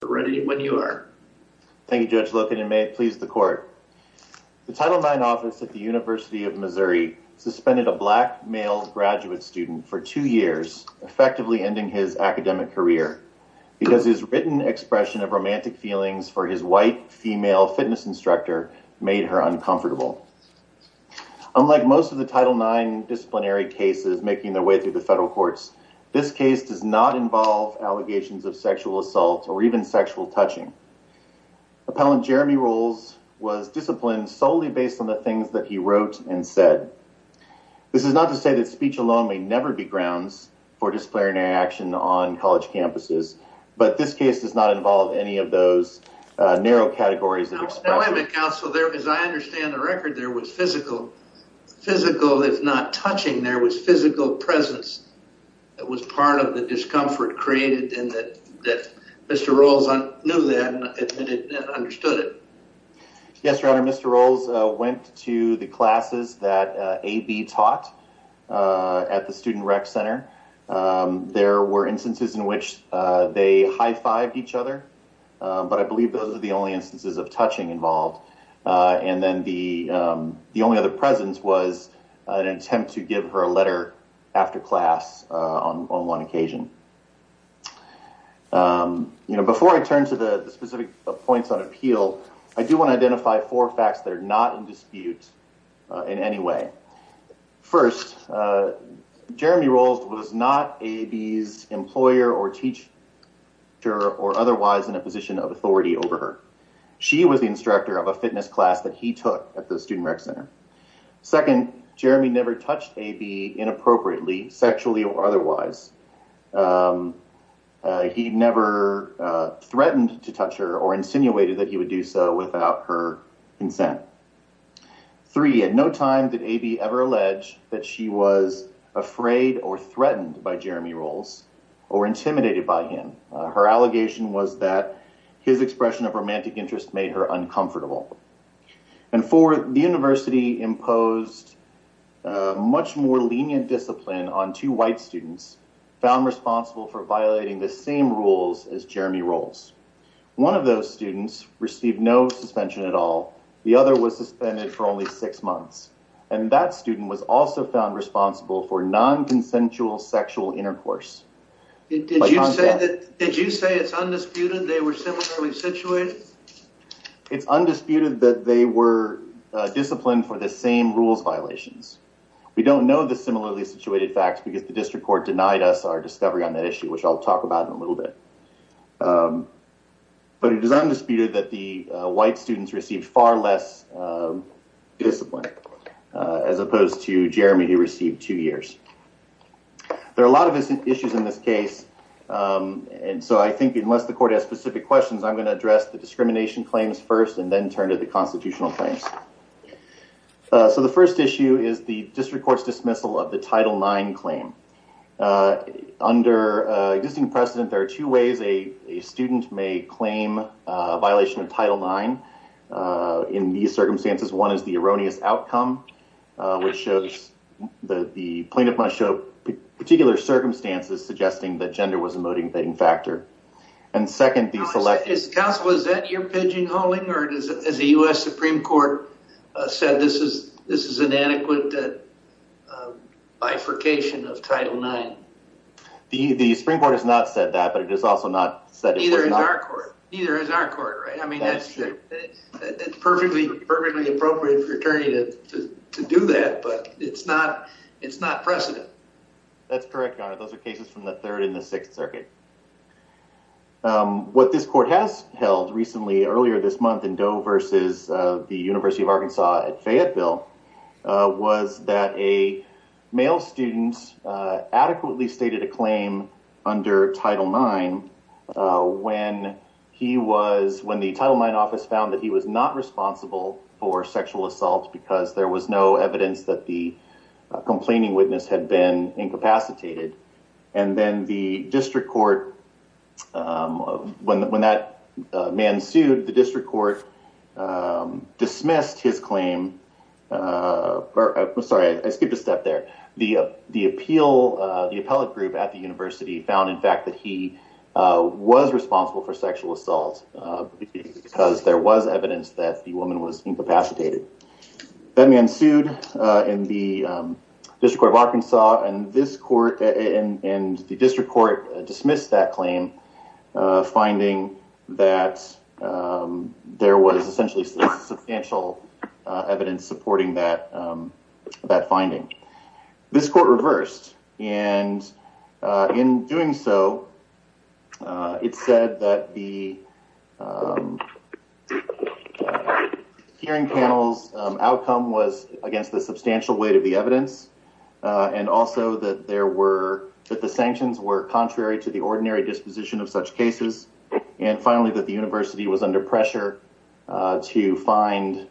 The Title IX Office at the University of Missouri suspended a black male graduate student for two years, effectively ending his academic career, because his written expression of romantic feelings for his white female fitness instructor made her uncomfortable. Unlike most of the Title IX disciplinary cases making their way through the federal courts, this case does not involve allegations of sexual assault or even sexual touching. Appellant Jeremy Rowles was disciplined solely based on the things that he wrote and said. This is not to say that speech alone may never be grounds for disciplinary action on college campuses, but this case does not involve any of those narrow categories of expression. Now wait a minute, counsel. As I understand the record, there was physical, physical if part of the discomfort created in that Mr. Rowles knew that and understood it. Yes, your honor, Mr. Rowles went to the classes that A.B. taught at the Student Rec Center. There were instances in which they high-fived each other, but I believe those are the only instances of touching involved. And then the only other presence was an attempt to give her a letter after class on one occasion. You know, before I turn to the specific points on appeal, I do want to identify four facts that are not in dispute in any way. First, Jeremy Rowles was not A.B.'s employer or teacher or otherwise in a position of authority over her. She was the instructor of a fitness class that he took at the Student Rec Center. Second, Jeremy never touched A.B. inappropriately, sexually or otherwise. He never threatened to touch her or insinuated that he would do so without her consent. Three, at no time did A.B. ever allege that she was afraid or threatened by Jeremy Rowles or intimidated by him. Her allegation was that his expression of romantic interest made her uncomfortable. And four, the university imposed much more lenient discipline on two white students found responsible for violating the same rules as Jeremy Rowles. One of those students received no suspension at all. The other was suspended for only six months. And that student was also found responsible for non-consensual sexual intercourse. Did you say it's undisputed they were similarly situated? It's undisputed that they were disciplined for the same rules violations. We don't know the similarly situated facts because the district court denied us our discovery on that issue, which I'll talk about in a little bit. But it is undisputed that the white students received far less discipline as opposed to Jeremy who received two years. There are a lot of issues in this case. And so I think unless the court has specific questions, I'm going to address the discrimination claims first and then turn to the constitutional claims. So the first issue is the district court's dismissal of the Title IX claim. Under existing precedent, there are two ways a student may claim a violation of Title IX in these circumstances. One is the erroneous outcome, which shows that the plaintiff must show particular circumstances suggesting that the student has violated Title IX. Is that your pidging holding or is the U.S. Supreme Court said this is an adequate bifurcation of Title IX? The Supreme Court has not said that, but it has also not said it was not. Neither has our court, right? I mean, it's perfectly appropriate for an attorney to do that, but it's not precedent. That's correct, Your Honor. Those are cases from the Third and Fourth Circuit. One of the things that we saw recently earlier this month in Doe versus the University of Arkansas at Fayetteville was that a male student adequately stated a claim under Title IX when he was, when the Title IX office found that he was not responsible for sexual assault because there was no evidence that the complaining witness had been incapacitated. And then the district court, when that man sued, the district court dismissed his claim. Sorry, I skipped a step there. The appeal, the appellate group at the university found, in fact, that he was responsible for sexual assault because there was evidence that the woman was incapacitated. That man sued in the District Court of Arkansas and this court found that there was essentially substantial evidence supporting that, that finding. This court reversed, and in doing so, it said that the hearing panel's outcome was against the substantial weight of the evidence and also that there were, that the sanctions were contrary to the ordinary disposition of such cases. And finally, that the university was under pressure to find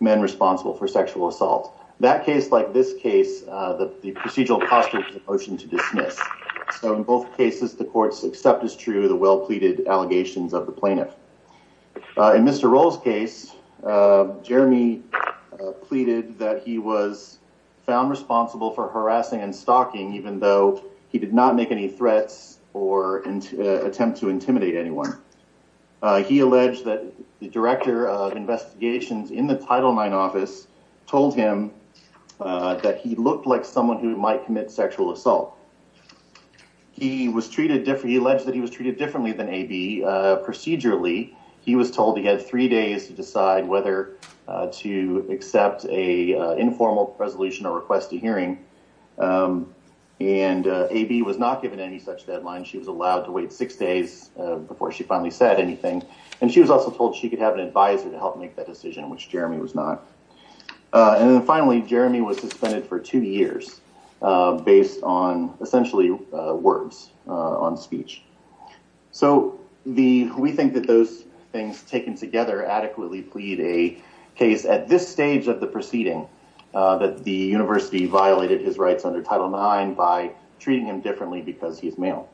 men responsible for sexual assault. That case, like this case, the procedural posture was a motion to dismiss. So in both cases, the court's accept is true, the well-pleaded allegations of the plaintiff. In Mr. Roll's case, Jeremy pleaded that he was found responsible for harassing and stalking, even though he did not make any threats or attempt to intimidate anyone. He alleged that the director of investigations in the Title IX office told him that he looked like someone who might commit sexual assault. He was treated, he alleged that he was treated differently than A.B. procedurally. He was told he had three days to decide whether to accept an informal resolution or request a hearing. And A.B. was not given any such deadline. She was allowed to wait six days before she finally said anything. And she was also told she could have an advisor to help make that decision, which Jeremy was not. And then finally, Jeremy was suspended for two years based on essentially words on the court's speech. So we think that those things taken together adequately plead a case at this stage of the proceeding, that the university violated his rights under Title IX by treating him differently because he's male.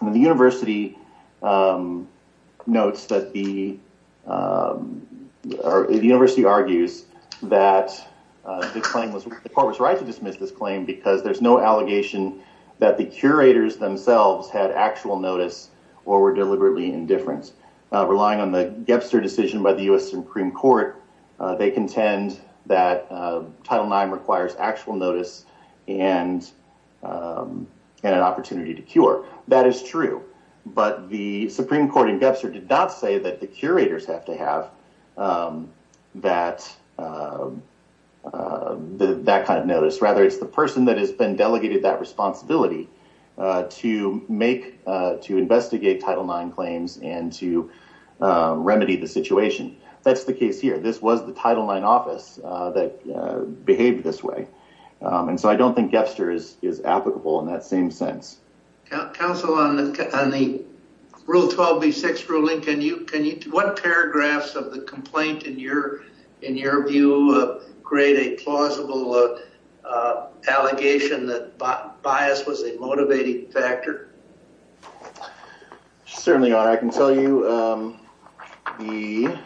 The university notes that the, the university argues that the court was right to dismiss this claim because there's no allegation that the curators themselves had actual notice or were deliberately indifference. Relying on the Gebser decision by the U.S. Supreme Court, they contend that Title IX requires actual notice and an opportunity to cure. That is true. But the Supreme Court in Gebser did not say that the curators have to have that, that kind of notice. Rather, it's the person that has been delegated that responsibility to make, to investigate Title IX claims and to remedy the situation. That's the case here. This was the Title IX office that behaved this way. And so I don't think Gebser is applicable in that same sense. Counsel, on the, on the Rule 12B6 ruling, can you, can you, what paragraphs of the complaint in your, in your view create a plausible allegation that bias was a motivating factor? Certainly, Your Honor. I can tell you the,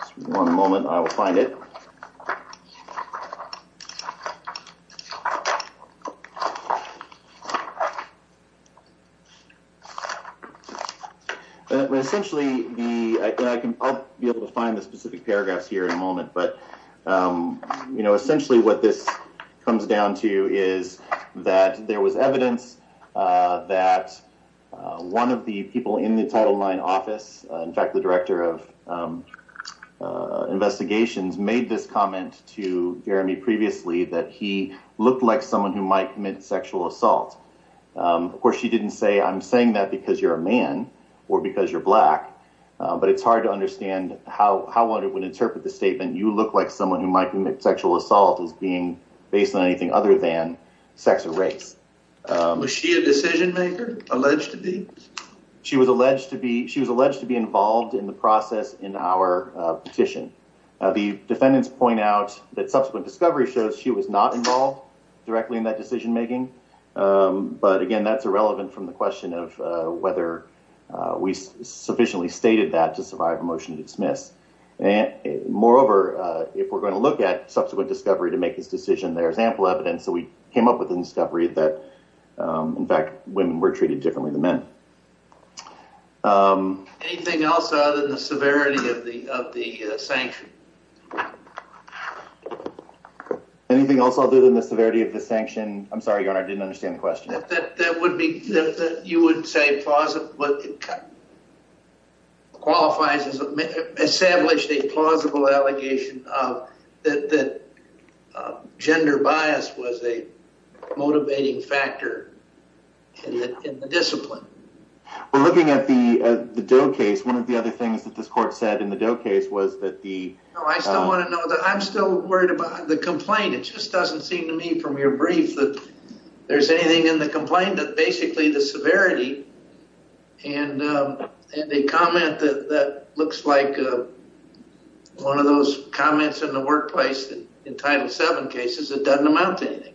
just one moment, I will find it. Essentially, the, I can, I'll be able to find the specific paragraphs here in a moment, but, you know, essentially what this comes down to is that there was evidence that one of the people in the Title IX office, in fact, the Director of Justice, was someone who might commit sexual assault. Of course, she didn't say, I'm saying that because you're a man or because you're black, but it's hard to understand how, how one would interpret the statement, you look like someone who might commit sexual assault as being based on anything other than sex or race. Was she a decision maker, alleged to be? She was alleged to be, she was alleged to be involved in the process in our petition. The defendants point out that she was involved in the decision making, but again, that's irrelevant from the question of whether we sufficiently stated that to survive a motion to dismiss. Moreover, if we're going to look at subsequent discovery to make this decision, there's ample evidence that we came up with in discovery that, in fact, women were treated differently than men. Anything else other than the severity of the, of the sanction? Anything else other than the severity of the sanction? I'm sorry, your honor, I didn't understand the question. That, that would be, that you wouldn't say plausible, but it qualifies as established a plausible allegation of that, that gender bias was a motivating factor in the, in the discipline. We're looking at the, the Doe case. One of the other things that this court said in the Doe case was that the... No, I still want to know that. I'm still worried about the complaint. It just doesn't seem to me from your brief that there's anything in the complaint that basically the severity and, and the comment that, that looks like one of those comments in the workplace in Title VII cases, it doesn't amount to anything.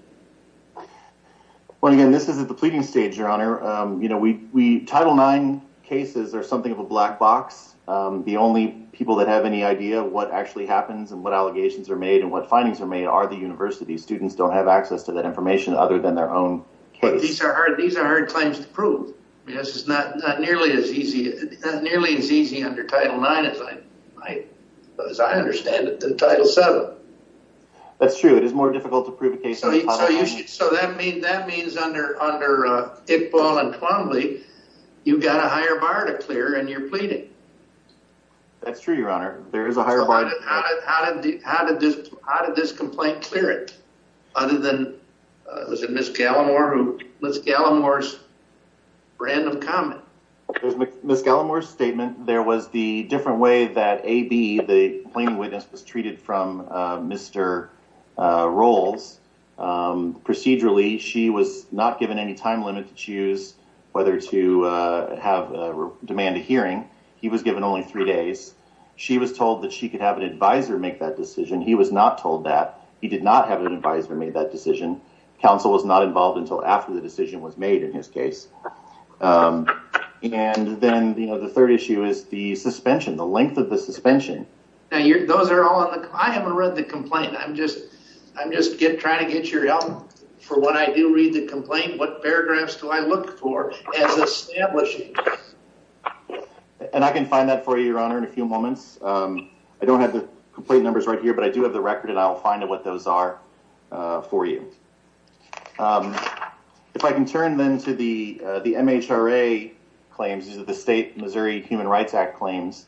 Well, again, this is at the pleading stage, your honor. You know, we, we, Title IX cases are something of a black box. The only people that have any idea of what actually happens and what allegations are made and what findings are made are the universities. Students don't have access to that information other than their own case. But these are, these are hard claims to prove. I mean, this is not, not nearly as easy, not nearly as easy under Title IX as I, as I understand it, than Title VII. That's true. It is more difficult to prove a case... So that means, that means under, under Iqbal and Clombly, you've got a higher bar to clear and you're pleading. That's true, your honor. There is a higher bar. How did, how did this, how did this complaint clear it? Other than, was it Ms. Gallimore who, Ms. Gallimore's random comment? Ms. Gallimore's statement, there was the different way that AB, the complaining witness, was treated from Mr. Rolls. Procedurally, she was not given any time limit to choose whether to have, demand a hearing. He was given only three days. She was told that she could have an advisor make that decision. He was not told that. He did not have an advisor make that decision. Counsel was not involved until after the decision was made in his case. And then, you know, the third issue is the suspension, the length of the suspension. Now you're, those are all on the, I haven't read the complaint. I'm just, I'm just trying to get your help for when I do read the complaint, what paragraphs do I look for as establishing? And I can find that for you, your honor, in a few moments. I don't have the complaint numbers right here, but I do have the record and I'll find out what those are for you. If I can turn then to the, the MHRA claims, these are the State Missouri Human Rights Act claims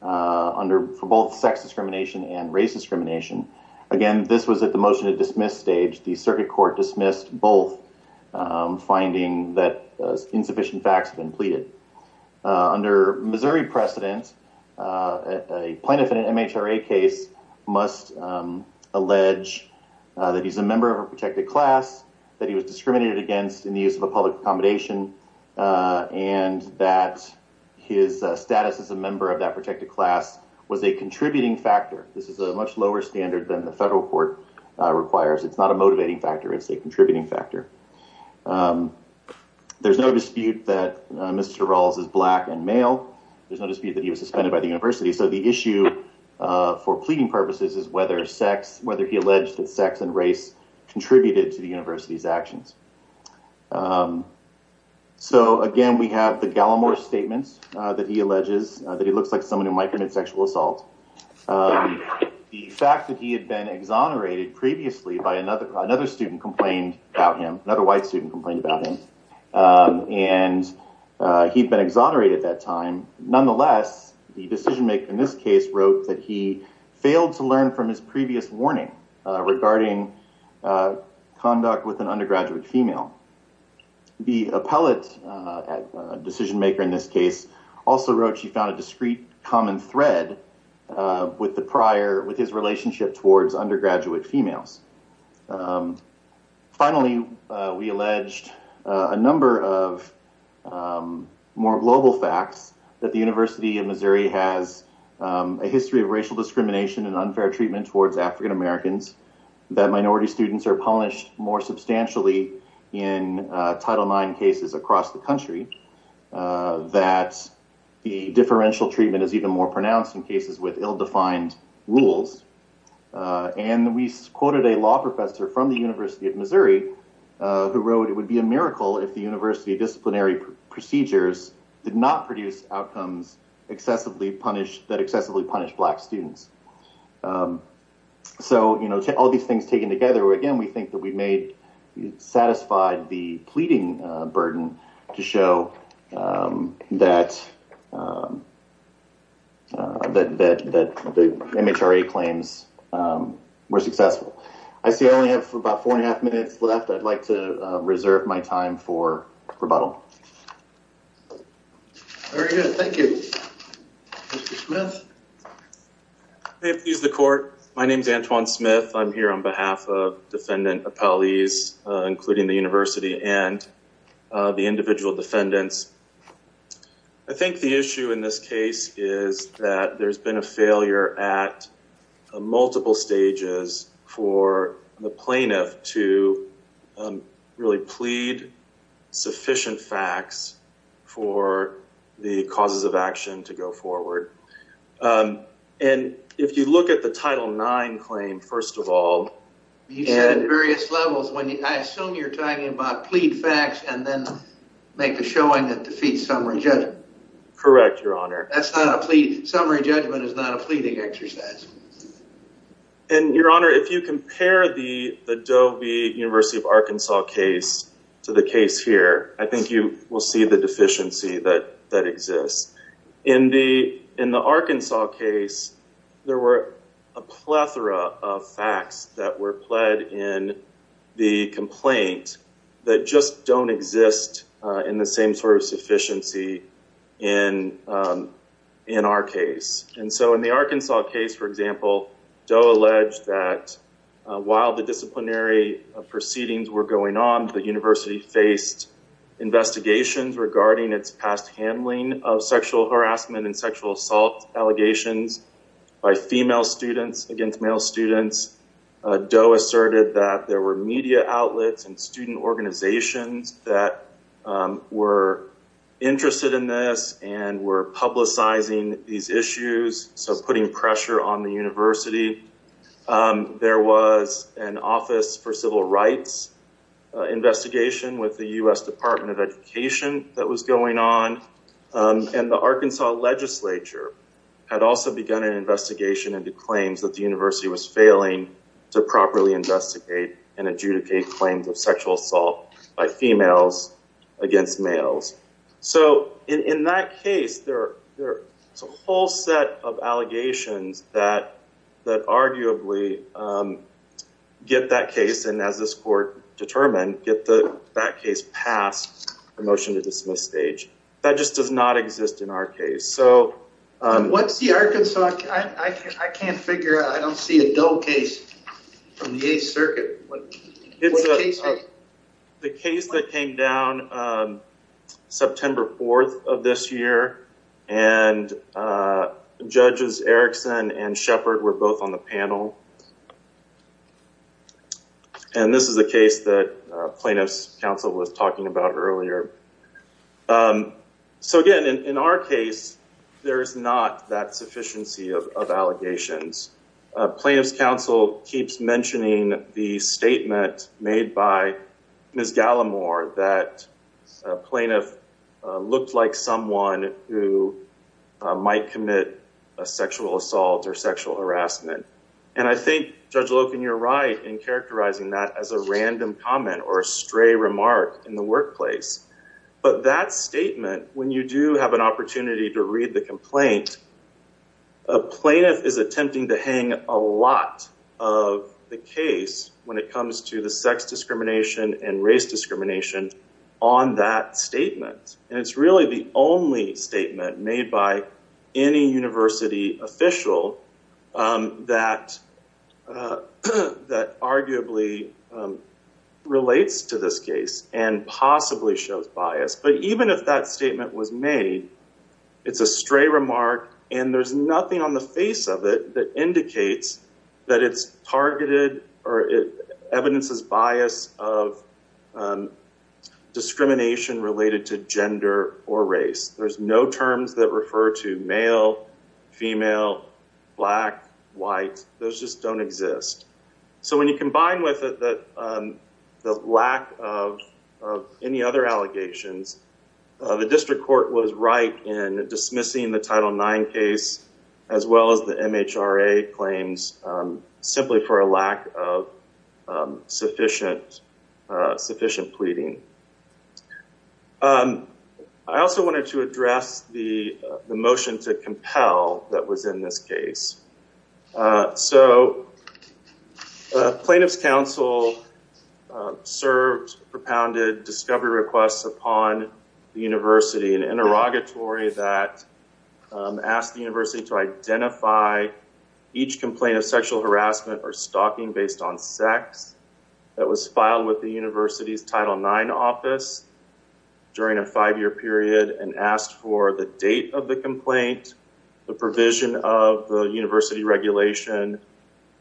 under, for both sex discrimination and race discrimination. Again, this was at the motion to dismiss stage. The circuit court dismissed both finding that insufficient facts have been pleaded. Under Missouri precedent, a plaintiff in an MHRA case must allege that he's a member of a protected class, that he was discriminated against in the use of a public accommodation, and that his status as a member of that protected class was a contributing factor. This is a much lower standard than the federal court requires. It's not a motivating factor. It's a contributing factor. There's no dispute that Mr. Rawls is black and male. There's no dispute that he was suspended by the university. So the issue for pleading purposes is whether sex, whether he alleged that sex and race contributed to the university's actions. So again, we have the Gallimore statements that he alleges that he looks like someone who might commit sexual assault. The fact that he had been exonerated previously by another, another student complained about him, another white student complained about him, and he'd been exonerated at that time. Nonetheless, the decision maker in this case wrote that he failed to learn from his previous warning regarding conduct with an undergraduate female. The appellate decision maker in this case also wrote she found a discrete common thread with the prior, with his relationship towards undergraduate females. Finally, we alleged a number of more global facts that the University of Missouri has a history of racial discrimination and unfair treatment towards African Americans that minority students are punished more substantially in Title IX cases across the country, that the differential treatment is even more pronounced in cases with ill-defined rules. And we quoted a law professor from the University of Missouri who wrote, it would be a miracle if the university disciplinary procedures did not produce excessively punished, that excessively punished black students. So, you know, all these things taken together, again, we think that we made, satisfied the pleading burden to show that, that, that the MHRA claims were successful. I see I only have about four and a half minutes left. I'd like to reserve my time for rebuttal. Very good. Thank you. Mr. Smith. May it please the court. My name is Antoine Smith. I'm here on behalf of defendant appellees, including the university and the individual defendants. I think the issue in this case is that there's been a failure at multiple stages for the plaintiff to really plead sufficient facts for the causes of action to go forward. And if you look at the Title IX claim, first of all. You said various levels. I assume you're talking about plead facts and then make a showing that defeats summary judgment. Correct, your honor. That's not a plea. Summary judgment is not a pleading exercise. And your honor, if you compare the Doe v. University of Arkansas case to the case here, I think you will see the deficiency that exists. In the Arkansas case, there were a plethora of facts that were pled in the complaint that just don't exist in the same sort of sufficiency in our case. And so in the Arkansas case, for example, Doe alleged that while the disciplinary proceedings were going on, the university faced investigations regarding its past handling of sexual harassment and sexual assault allegations by female students against male students. Doe asserted that there were media outlets and student organizations that were interested in this and were publicizing these allegations. There was an office for civil rights investigation with the U.S. Department of Education that was going on. And the Arkansas legislature had also begun an investigation into claims that the university was failing to properly investigate and adjudicate claims of sexual assault by females against males. So in that case, there's a whole set of allegations that arguably get that case, and as this court determined, get that case past the motion to dismiss stage. That just does not exist in our case. So what's the Arkansas? I can't figure out. I don't see it. It's around September 4th of this year, and judges Erickson and Shepard were both on the panel. And this is a case that plaintiff's counsel was talking about earlier. So again, in our case, there's not that sufficiency of allegations. Plaintiff's counsel keeps mentioning the statement made by Ms. Gallimore that a plaintiff looked like someone who might commit a sexual assault or sexual harassment. And I think Judge Loken, you're right in characterizing that as a random comment or a stray remark in the workplace. But that statement, when you do have an opportunity to read the complaint, a plaintiff is attempting to hang a lot of the case when it comes to the sex discrimination and race discrimination on that statement. And it's really the only statement made by any university official that arguably relates to this case and possibly shows bias. But even if that statement was made, it's a stray remark, and there's nothing on the face of it that indicates that it's targeted or evidences bias of discrimination related to gender or race. There's no terms that refer to male, female, black, white. Those just don't exist. So when you combine with the lack of any other allegations, the district court was right in dismissing the Title IX case as well as the MHRA claims simply for a lack of sufficient pleading. I also wanted to address the motion to compel that was in this case. So plaintiff's counsel served propounded discovery requests upon the university, an interrogatory that asked the university to identify each complaint of sexual harassment or stalking based on sex that was filed with the university's Title IX office during a five-year period and asked for the date of the complaint, the provision of the university regulation,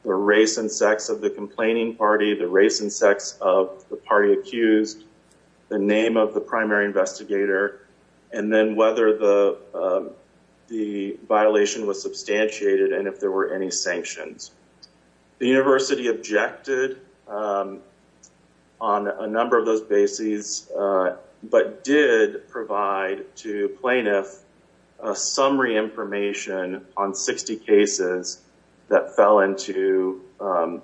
the race and sex of the complaining party, the race and sex of the party accused, the name of the primary investigator, and then whether the violation was substantiated and there were any sanctions. The university objected on a number of those bases but did provide to plaintiff summary information on 60 cases that fell into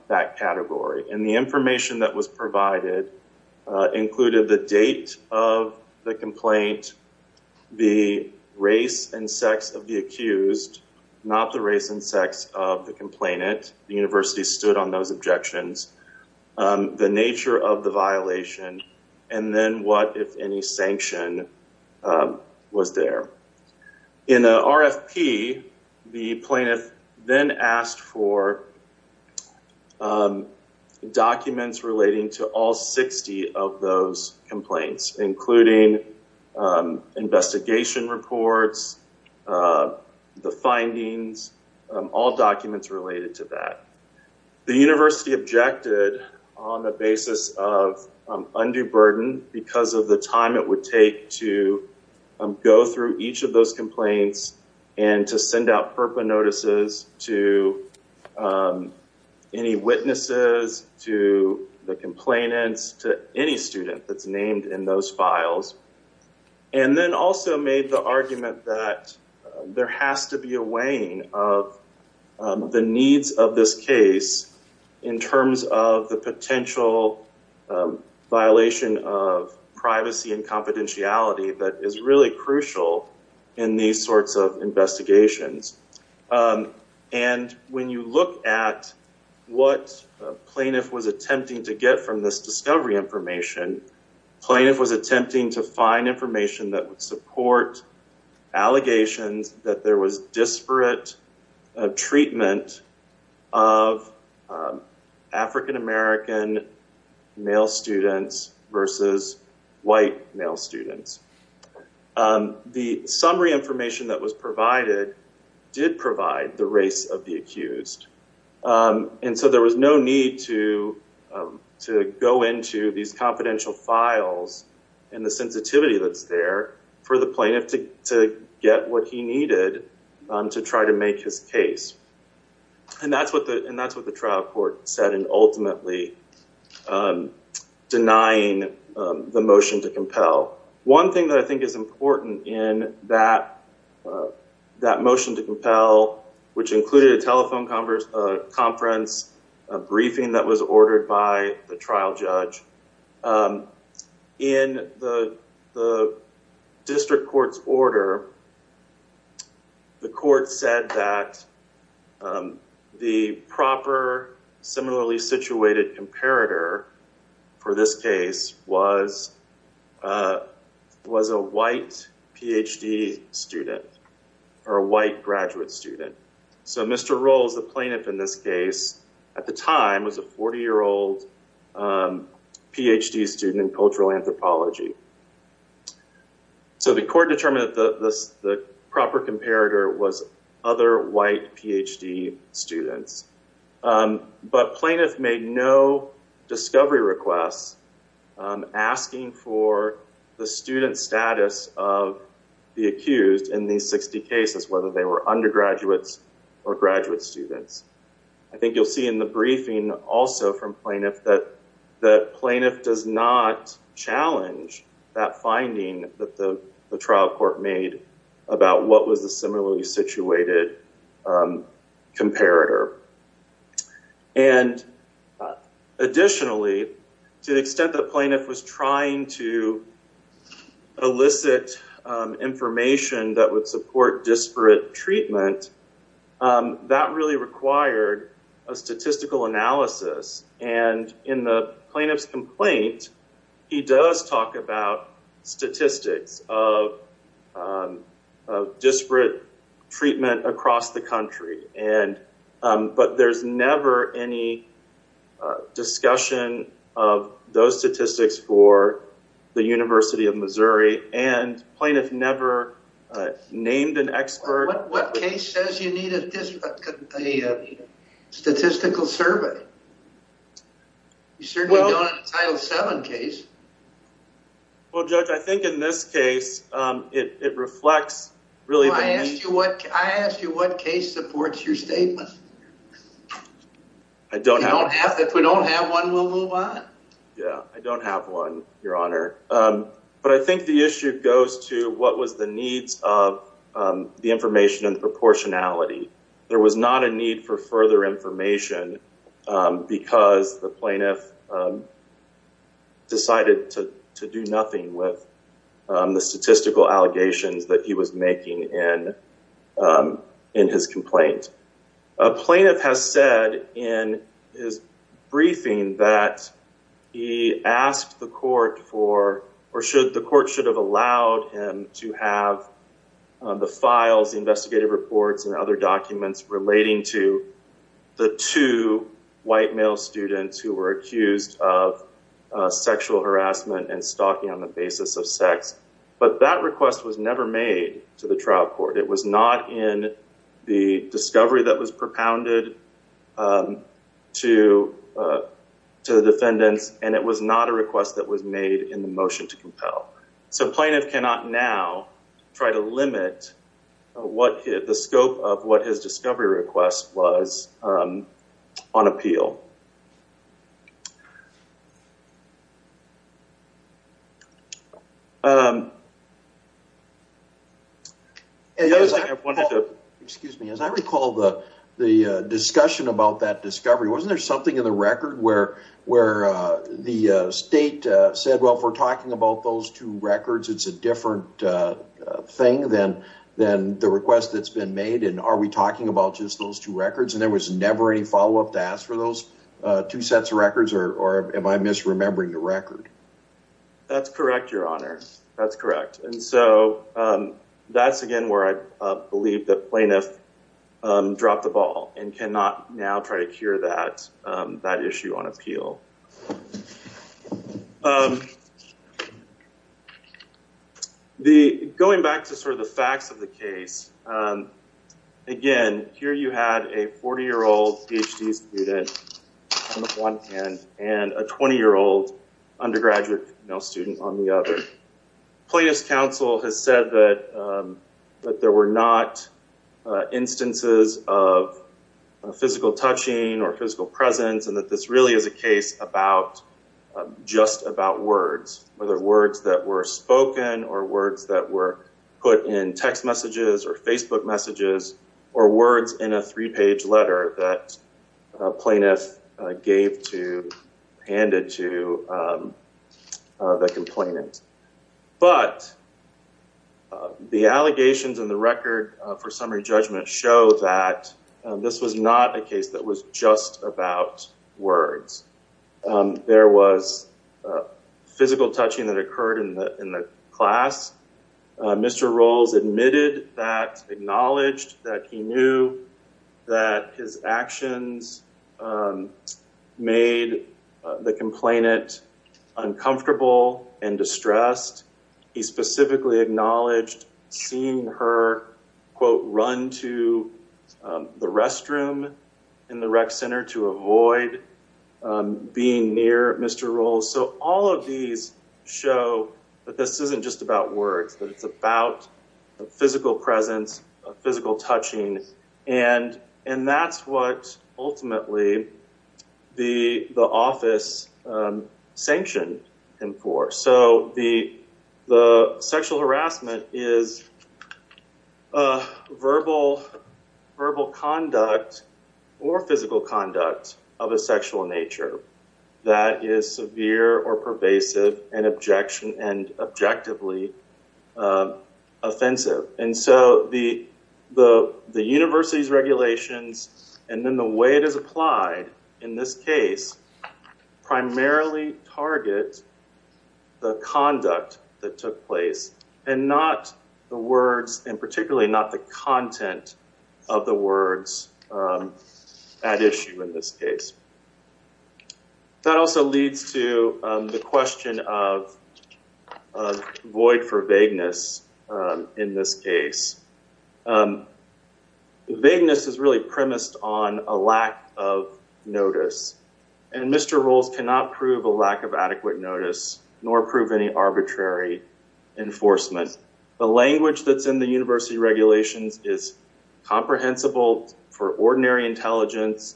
that category. And the information that was provided included the date of the complaint, the race and sex of the accused, not the race and sex of the complainant, the university stood on those objections, the nature of the violation, and then what if any sanction was there. In the RFP, the plaintiff then asked for documents relating to all 60 of those complaints including investigation reports, the findings, all documents related to that. The university objected on the basis of undue burden because of the time it would take to go through each of those complaints and to send out FERPA notices to any witnesses, to the complainants, to any student that's named in those files, and then also made the argument that there has to be a weighing of the needs of this case in terms of the potential violation of privacy and confidentiality that is really crucial in these sorts of investigations. And when you look at what plaintiff was attempting to get from this discovery information, plaintiff was attempting to find information that would support allegations that there was disparate treatment of African American male students versus white male students. The summary information that was provided did provide the race of the confidential files and the sensitivity that's there for the plaintiff to get what he needed to try to make his case. And that's what the trial court said in ultimately denying the motion to compel. One thing that I think is important in that motion to compel, which included a telephone conference, a briefing that was ordered by the trial judge, in the district court's order, the court said that the proper similarly situated comparator for this case was a white Ph.D. student, or a white graduate student. So Mr. Rolls, the plaintiff in this case, at the time was a 40-year-old Ph.D. student in cultural anthropology. So the court determined that the proper comparator was other white Ph.D. students. But plaintiff made no discovery requests asking for the student status of the accused in these 60 cases, whether they were undergraduates or graduate students. I think you'll see in the briefing also from plaintiff that the plaintiff does not challenge that finding that the trial court made about what was the similarly situated comparator. And additionally, to the extent that plaintiff was trying to elicit information that would support disparate treatment, that really required a statistical analysis. And in the plaintiff's complaint, he does talk about statistics of disparate treatment across the country. But there's never any discussion of those statistics for the University of Missouri. And plaintiff never named an expert. What case says you need a statistical survey? You certainly don't in a Title VII case. Well, Judge, I think in this case, it reflects really... Well, I asked you what case supports your statement. I don't have... If we don't have one, we'll move on. Yeah, I don't have one, Your Honor. But I think the issue goes to what was the needs of the information and proportionality. There was not a need for further information because the plaintiff decided to do nothing with the statistical allegations that he was making in his complaint. A plaintiff has said in his briefing that he asked the court for, or the court should have allowed him to have the files, the investigative reports, and other documents relating to the two white male students who were accused of sexual harassment and stalking on the basis of sex. But that request was never made to the trial court. It was not in the discovery that was propounded to the defendants, and it was not a request that was made in the motion to compel. So plaintiff cannot now try to limit what the scope of what his discovery request was on appeal. The other thing I wanted to... Excuse me. As I recall the discussion about that discovery, wasn't there something in the record where the state said, well, if we're talking about those two records, it's a different thing than the request that's been made, and are we talking about just those two records, and there was never any follow-up to ask for those two sets of records, or am I misremembering the record? That's correct, Your Honor. That's correct. And so that's, again, where I believe that plaintiff dropped the ball and cannot now try to cure that issue on appeal. Going back to sort of the facts of the case, again, here you had a 40-year-old PhD student on one hand and a 20-year-old undergraduate student on the other. Plaintiff's counsel has said that there were not instances of physical touching or physical presence and that this really is a case just about words, whether words that were spoken or words that were put in text messages or Facebook messages or words in a three-page letter that plaintiff gave to, handed to the complainant. But the allegations in the record for summary judgment show that this was not a case that was just about words. There was physical touching that occurred in the class. Mr. Rowles admitted that, acknowledged that he knew that his actions made the complainant uncomfortable and distressed. He specifically acknowledged seeing her quote, run to the restroom in the rec center to avoid being near Mr. Rowles. So all of these show that this isn't just about words, that it's about a physical presence, a physical touching, and that's what ultimately the office sanctioned him for. So the sexual harassment is a verbal, verbal conduct or physical conduct of a sexual nature that is severe or pervasive and objection, and objectively offensive. And so the, the, the university's regulations and then the way it is applied in this case primarily target the conduct that took place and not the words and particularly not the content of the words at issue in this case. That also leads to the question of void for vagueness in this case. Vagueness is really premised on a lack of notice, and Mr. Rowles cannot prove a lack of adequate notice nor prove any arbitrary enforcement. The language that's in the university regulations is comprehensible for ordinary intelligence.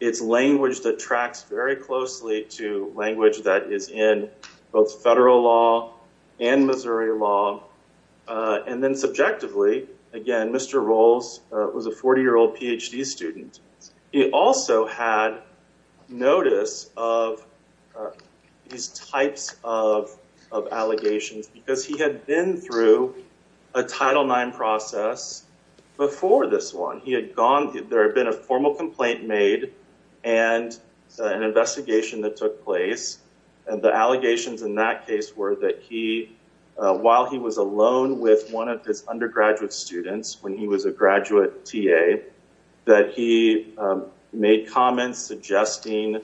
It's language that tracks very closely to language that is in both federal law and Missouri law. And then subjectively, again, Mr. Rowles was a 40-year-old PhD student. He also had notice of these types of, of allegations because he had been through a Title IX process before this one. He had gone, there had been a formal complaint made and an investigation that took place, and the allegations in that case were that he, while he was alone with one of his undergraduate students when he was a graduate TA, that he made comments suggesting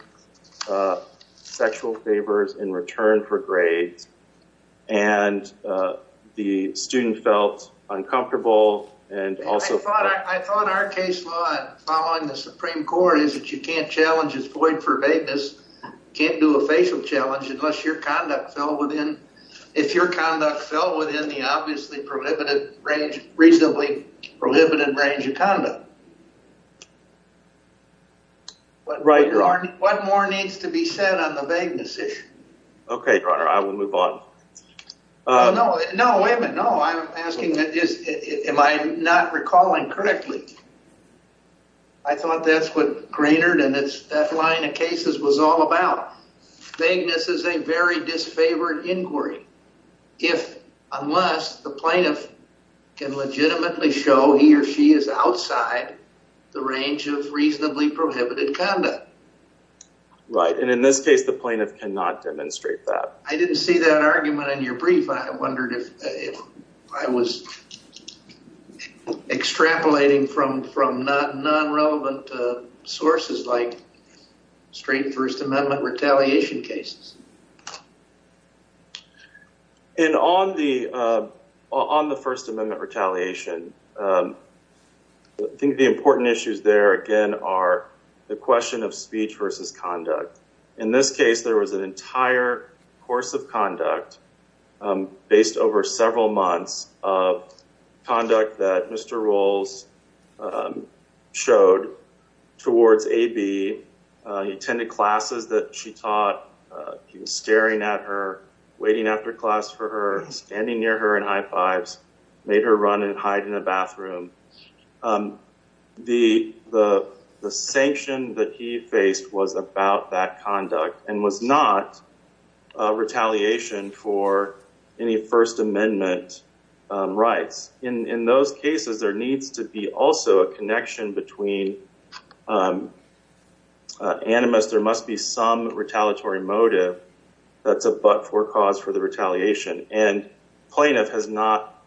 sexual favors in return for grades, and the student felt uncomfortable and also... I thought our case law following the Supreme Court is that you can't challenge his void for vagueness, can't do a facial challenge unless your conduct fell within, if your conduct fell within the obviously prohibitive range, reasonably prohibitive range of conduct. Right. What more needs to be said on the vagueness issue? Okay, Your Honor, I will move on. No, no, wait a minute. No, I'm asking, am I not recalling correctly? I thought that's what Greenard and that line of cases was all about. Vagueness is a very disfavored inquiry if, unless the plaintiff can legitimately show he or she is outside the range of reasonably prohibited conduct. Right, and in this case, the plaintiff cannot demonstrate that. I didn't see that argument in your brief. I wondered if I was extrapolating from non-relevant sources like straight First Amendment retaliation cases. And on the First Amendment retaliation, I think the important issues there, again, are the question of speech versus conduct. In this case, there was an entire course of conduct based over several months of conduct that Mr. Rolls showed towards AB. He attended classes that she taught. He was staring at her, waiting after class for her, standing near her and high fives, made her run and hide in the bathroom. The sanction that he faced was about that conduct and was not retaliation for any First Amendment rights. In those cases, there needs to be also a connection between animus. There must be some retaliatory motive that's a but-for cause for the retaliation. And plaintiff has not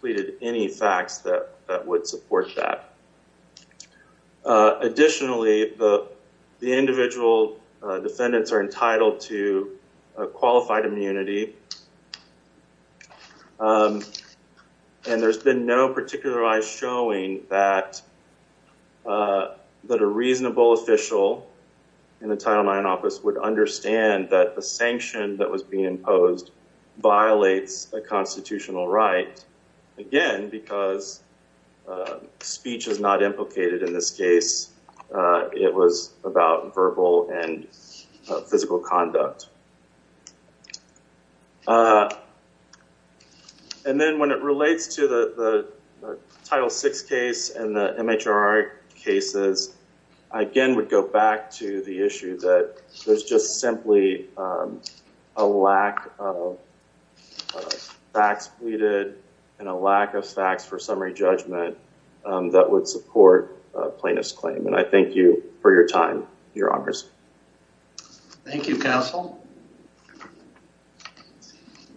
pleaded any facts that would support that. Additionally, the individual defendants are entitled to qualified immunity. And there's been no particularized showing that a reasonable official in the Title IX office would understand that the sanction that was being imposed violates a constitutional right, again, because speech is not implicated in this case. It was about verbal and physical conduct. And then when it relates to the Title VI case and the MHR cases, I again would go back to the issue that there's just simply a lack of facts pleaded and a lack of facts for summary judgment that would support a plaintiff's claim. And I thank you for your time, your honors. Thank you, counsel.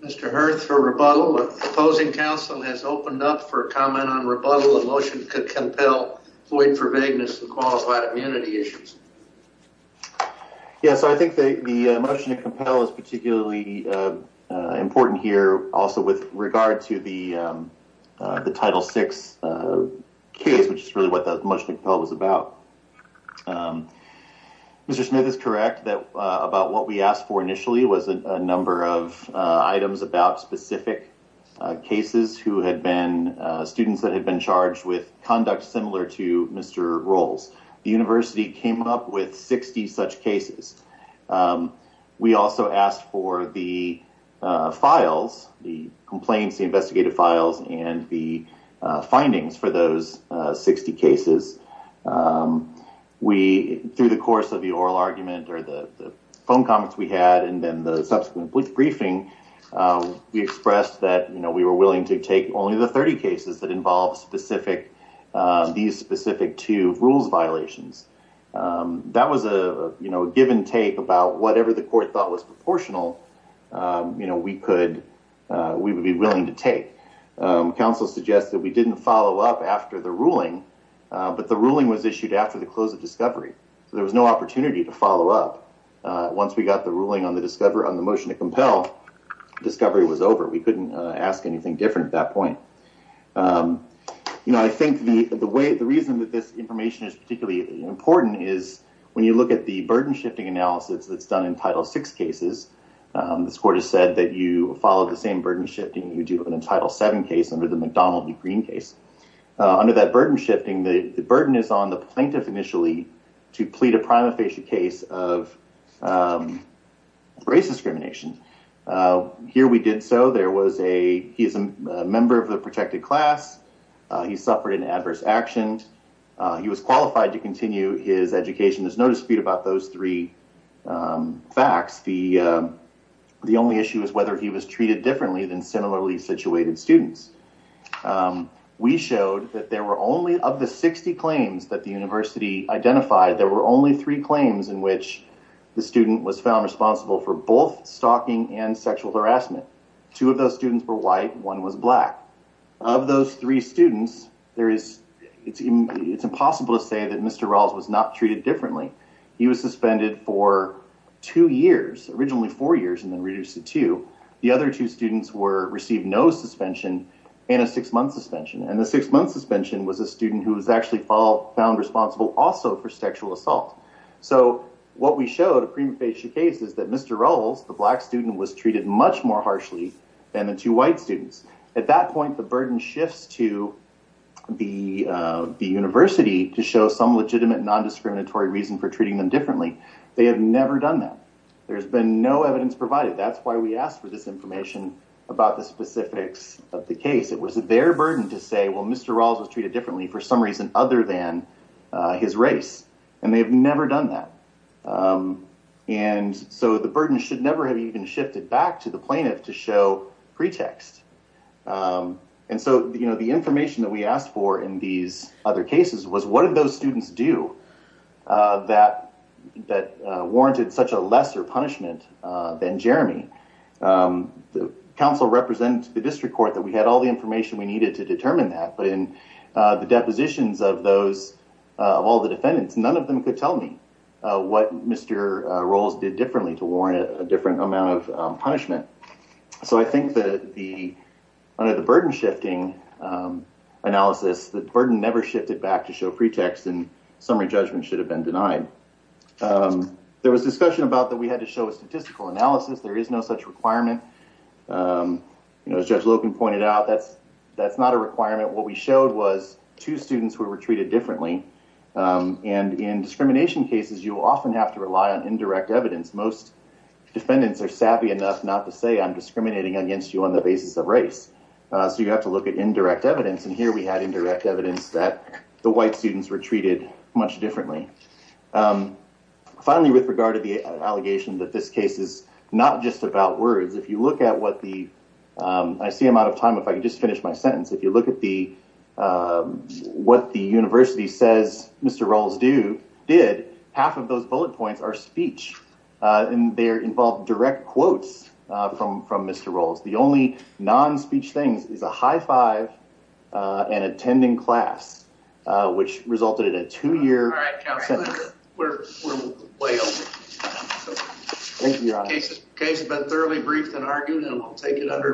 Mr. Hurth for rebuttal. The opposing counsel has opened up for a comment on rebuttal. The motion could compel void for vagueness and qualified immunity issues. Yeah, so I think the motion to compel is particularly important here also with regard to the Title VI case, which is really what the motion to compel was about. Mr. Smith is correct that about what we asked for initially was a number of items about specific cases who had been students that had been charged with conduct similar to Mr. Rolls. The university came up with 60 such cases. We also asked for the files, the complaints, the investigative files, and the findings for those 60 cases. Through the course of the oral argument or the phone comments we had and then the subsequent briefing, we expressed that we were rules violations. That was a given take about whatever the court thought was proportional we would be willing to take. Counsel suggested we didn't follow up after the ruling, but the ruling was issued after the close of discovery. So there was no opportunity to follow up. Once we got the ruling on the motion to compel, discovery was over. We couldn't ask anything different at that point. I think the reason that this information is particularly important is when you look at the burden shifting analysis that's done in Title VI cases, this court has said that you follow the same burden shifting that you do in a Title VII case under the McDonald v. Green case. Under that burden shifting, the burden is on the plaintiff initially to plead a prima facie case of race discrimination. Here we did so. There was a member of the protected class. He suffered an adverse action. He was qualified to continue his education. There's no dispute about those three facts. The only issue is whether he was treated differently than similarly situated students. We showed that there were only of the 60 claims that the university identified, there were only three claims in which the student was found responsible for both stalking and sexual harassment. Two of those students were white. One was black. Of those three students, it's impossible to say that Mr. Rawls was not treated differently. He was suspended for two years, originally four years, and then reduced to two. The other two students received no suspension and a six-month suspension. The six-month suspension was a student who was actually found responsible also for sexual assault. So what we showed a prima facie case is that Mr. Rawls, the black student, was treated much more harshly than the two white students. At that point, the burden shifts to the university to show some legitimate non-discriminatory reason for treating them differently. They have never done that. There's been no evidence provided. That's why we asked for this information about the specifics of the case. It was their burden to say, well, Mr. Rawls was treated differently for some reason other than his race. They have never done that. The burden should never have even shifted back to the plaintiff to show pretext. The information that we asked for in these other cases was, what did those students do that warranted such a lesser punishment than Jeremy? The council represents the district court that we had all the information we needed to determine that. But in the depositions of all the defendants, none of them could tell me what Mr. Rawls did differently to warrant a different amount of punishment. So I think that under the burden shifting analysis, the burden never shifted back to show pretext and summary judgment should have been denied. There was discussion about that we had to show a statistical analysis. There is no such requirement. As Judge Logan pointed out, that's not a requirement. What we showed was two students who were treated differently. And in discrimination cases, you often have to rely on indirect evidence. Most defendants are savvy enough not to say I'm discriminating against you on the basis of race. So you have to look at indirect evidence. And here we had indirect evidence that the white students were treated much differently. Finally, with regard to the allegation that this case is not just about words, if you look at what the, I see I'm out of time. If I could just finish my sentence. If you look at what the university says Mr. Rawls did, half of those bullet points are speech. And they involve direct quotes from Mr. Rawls. The only non-speech things is a high five and attending class, which resulted in a two-year sentence. All right, Counselor, we're way over time. Thank you, Your Honor. The case has been thoroughly briefed and argued, and I'll take it under advisement.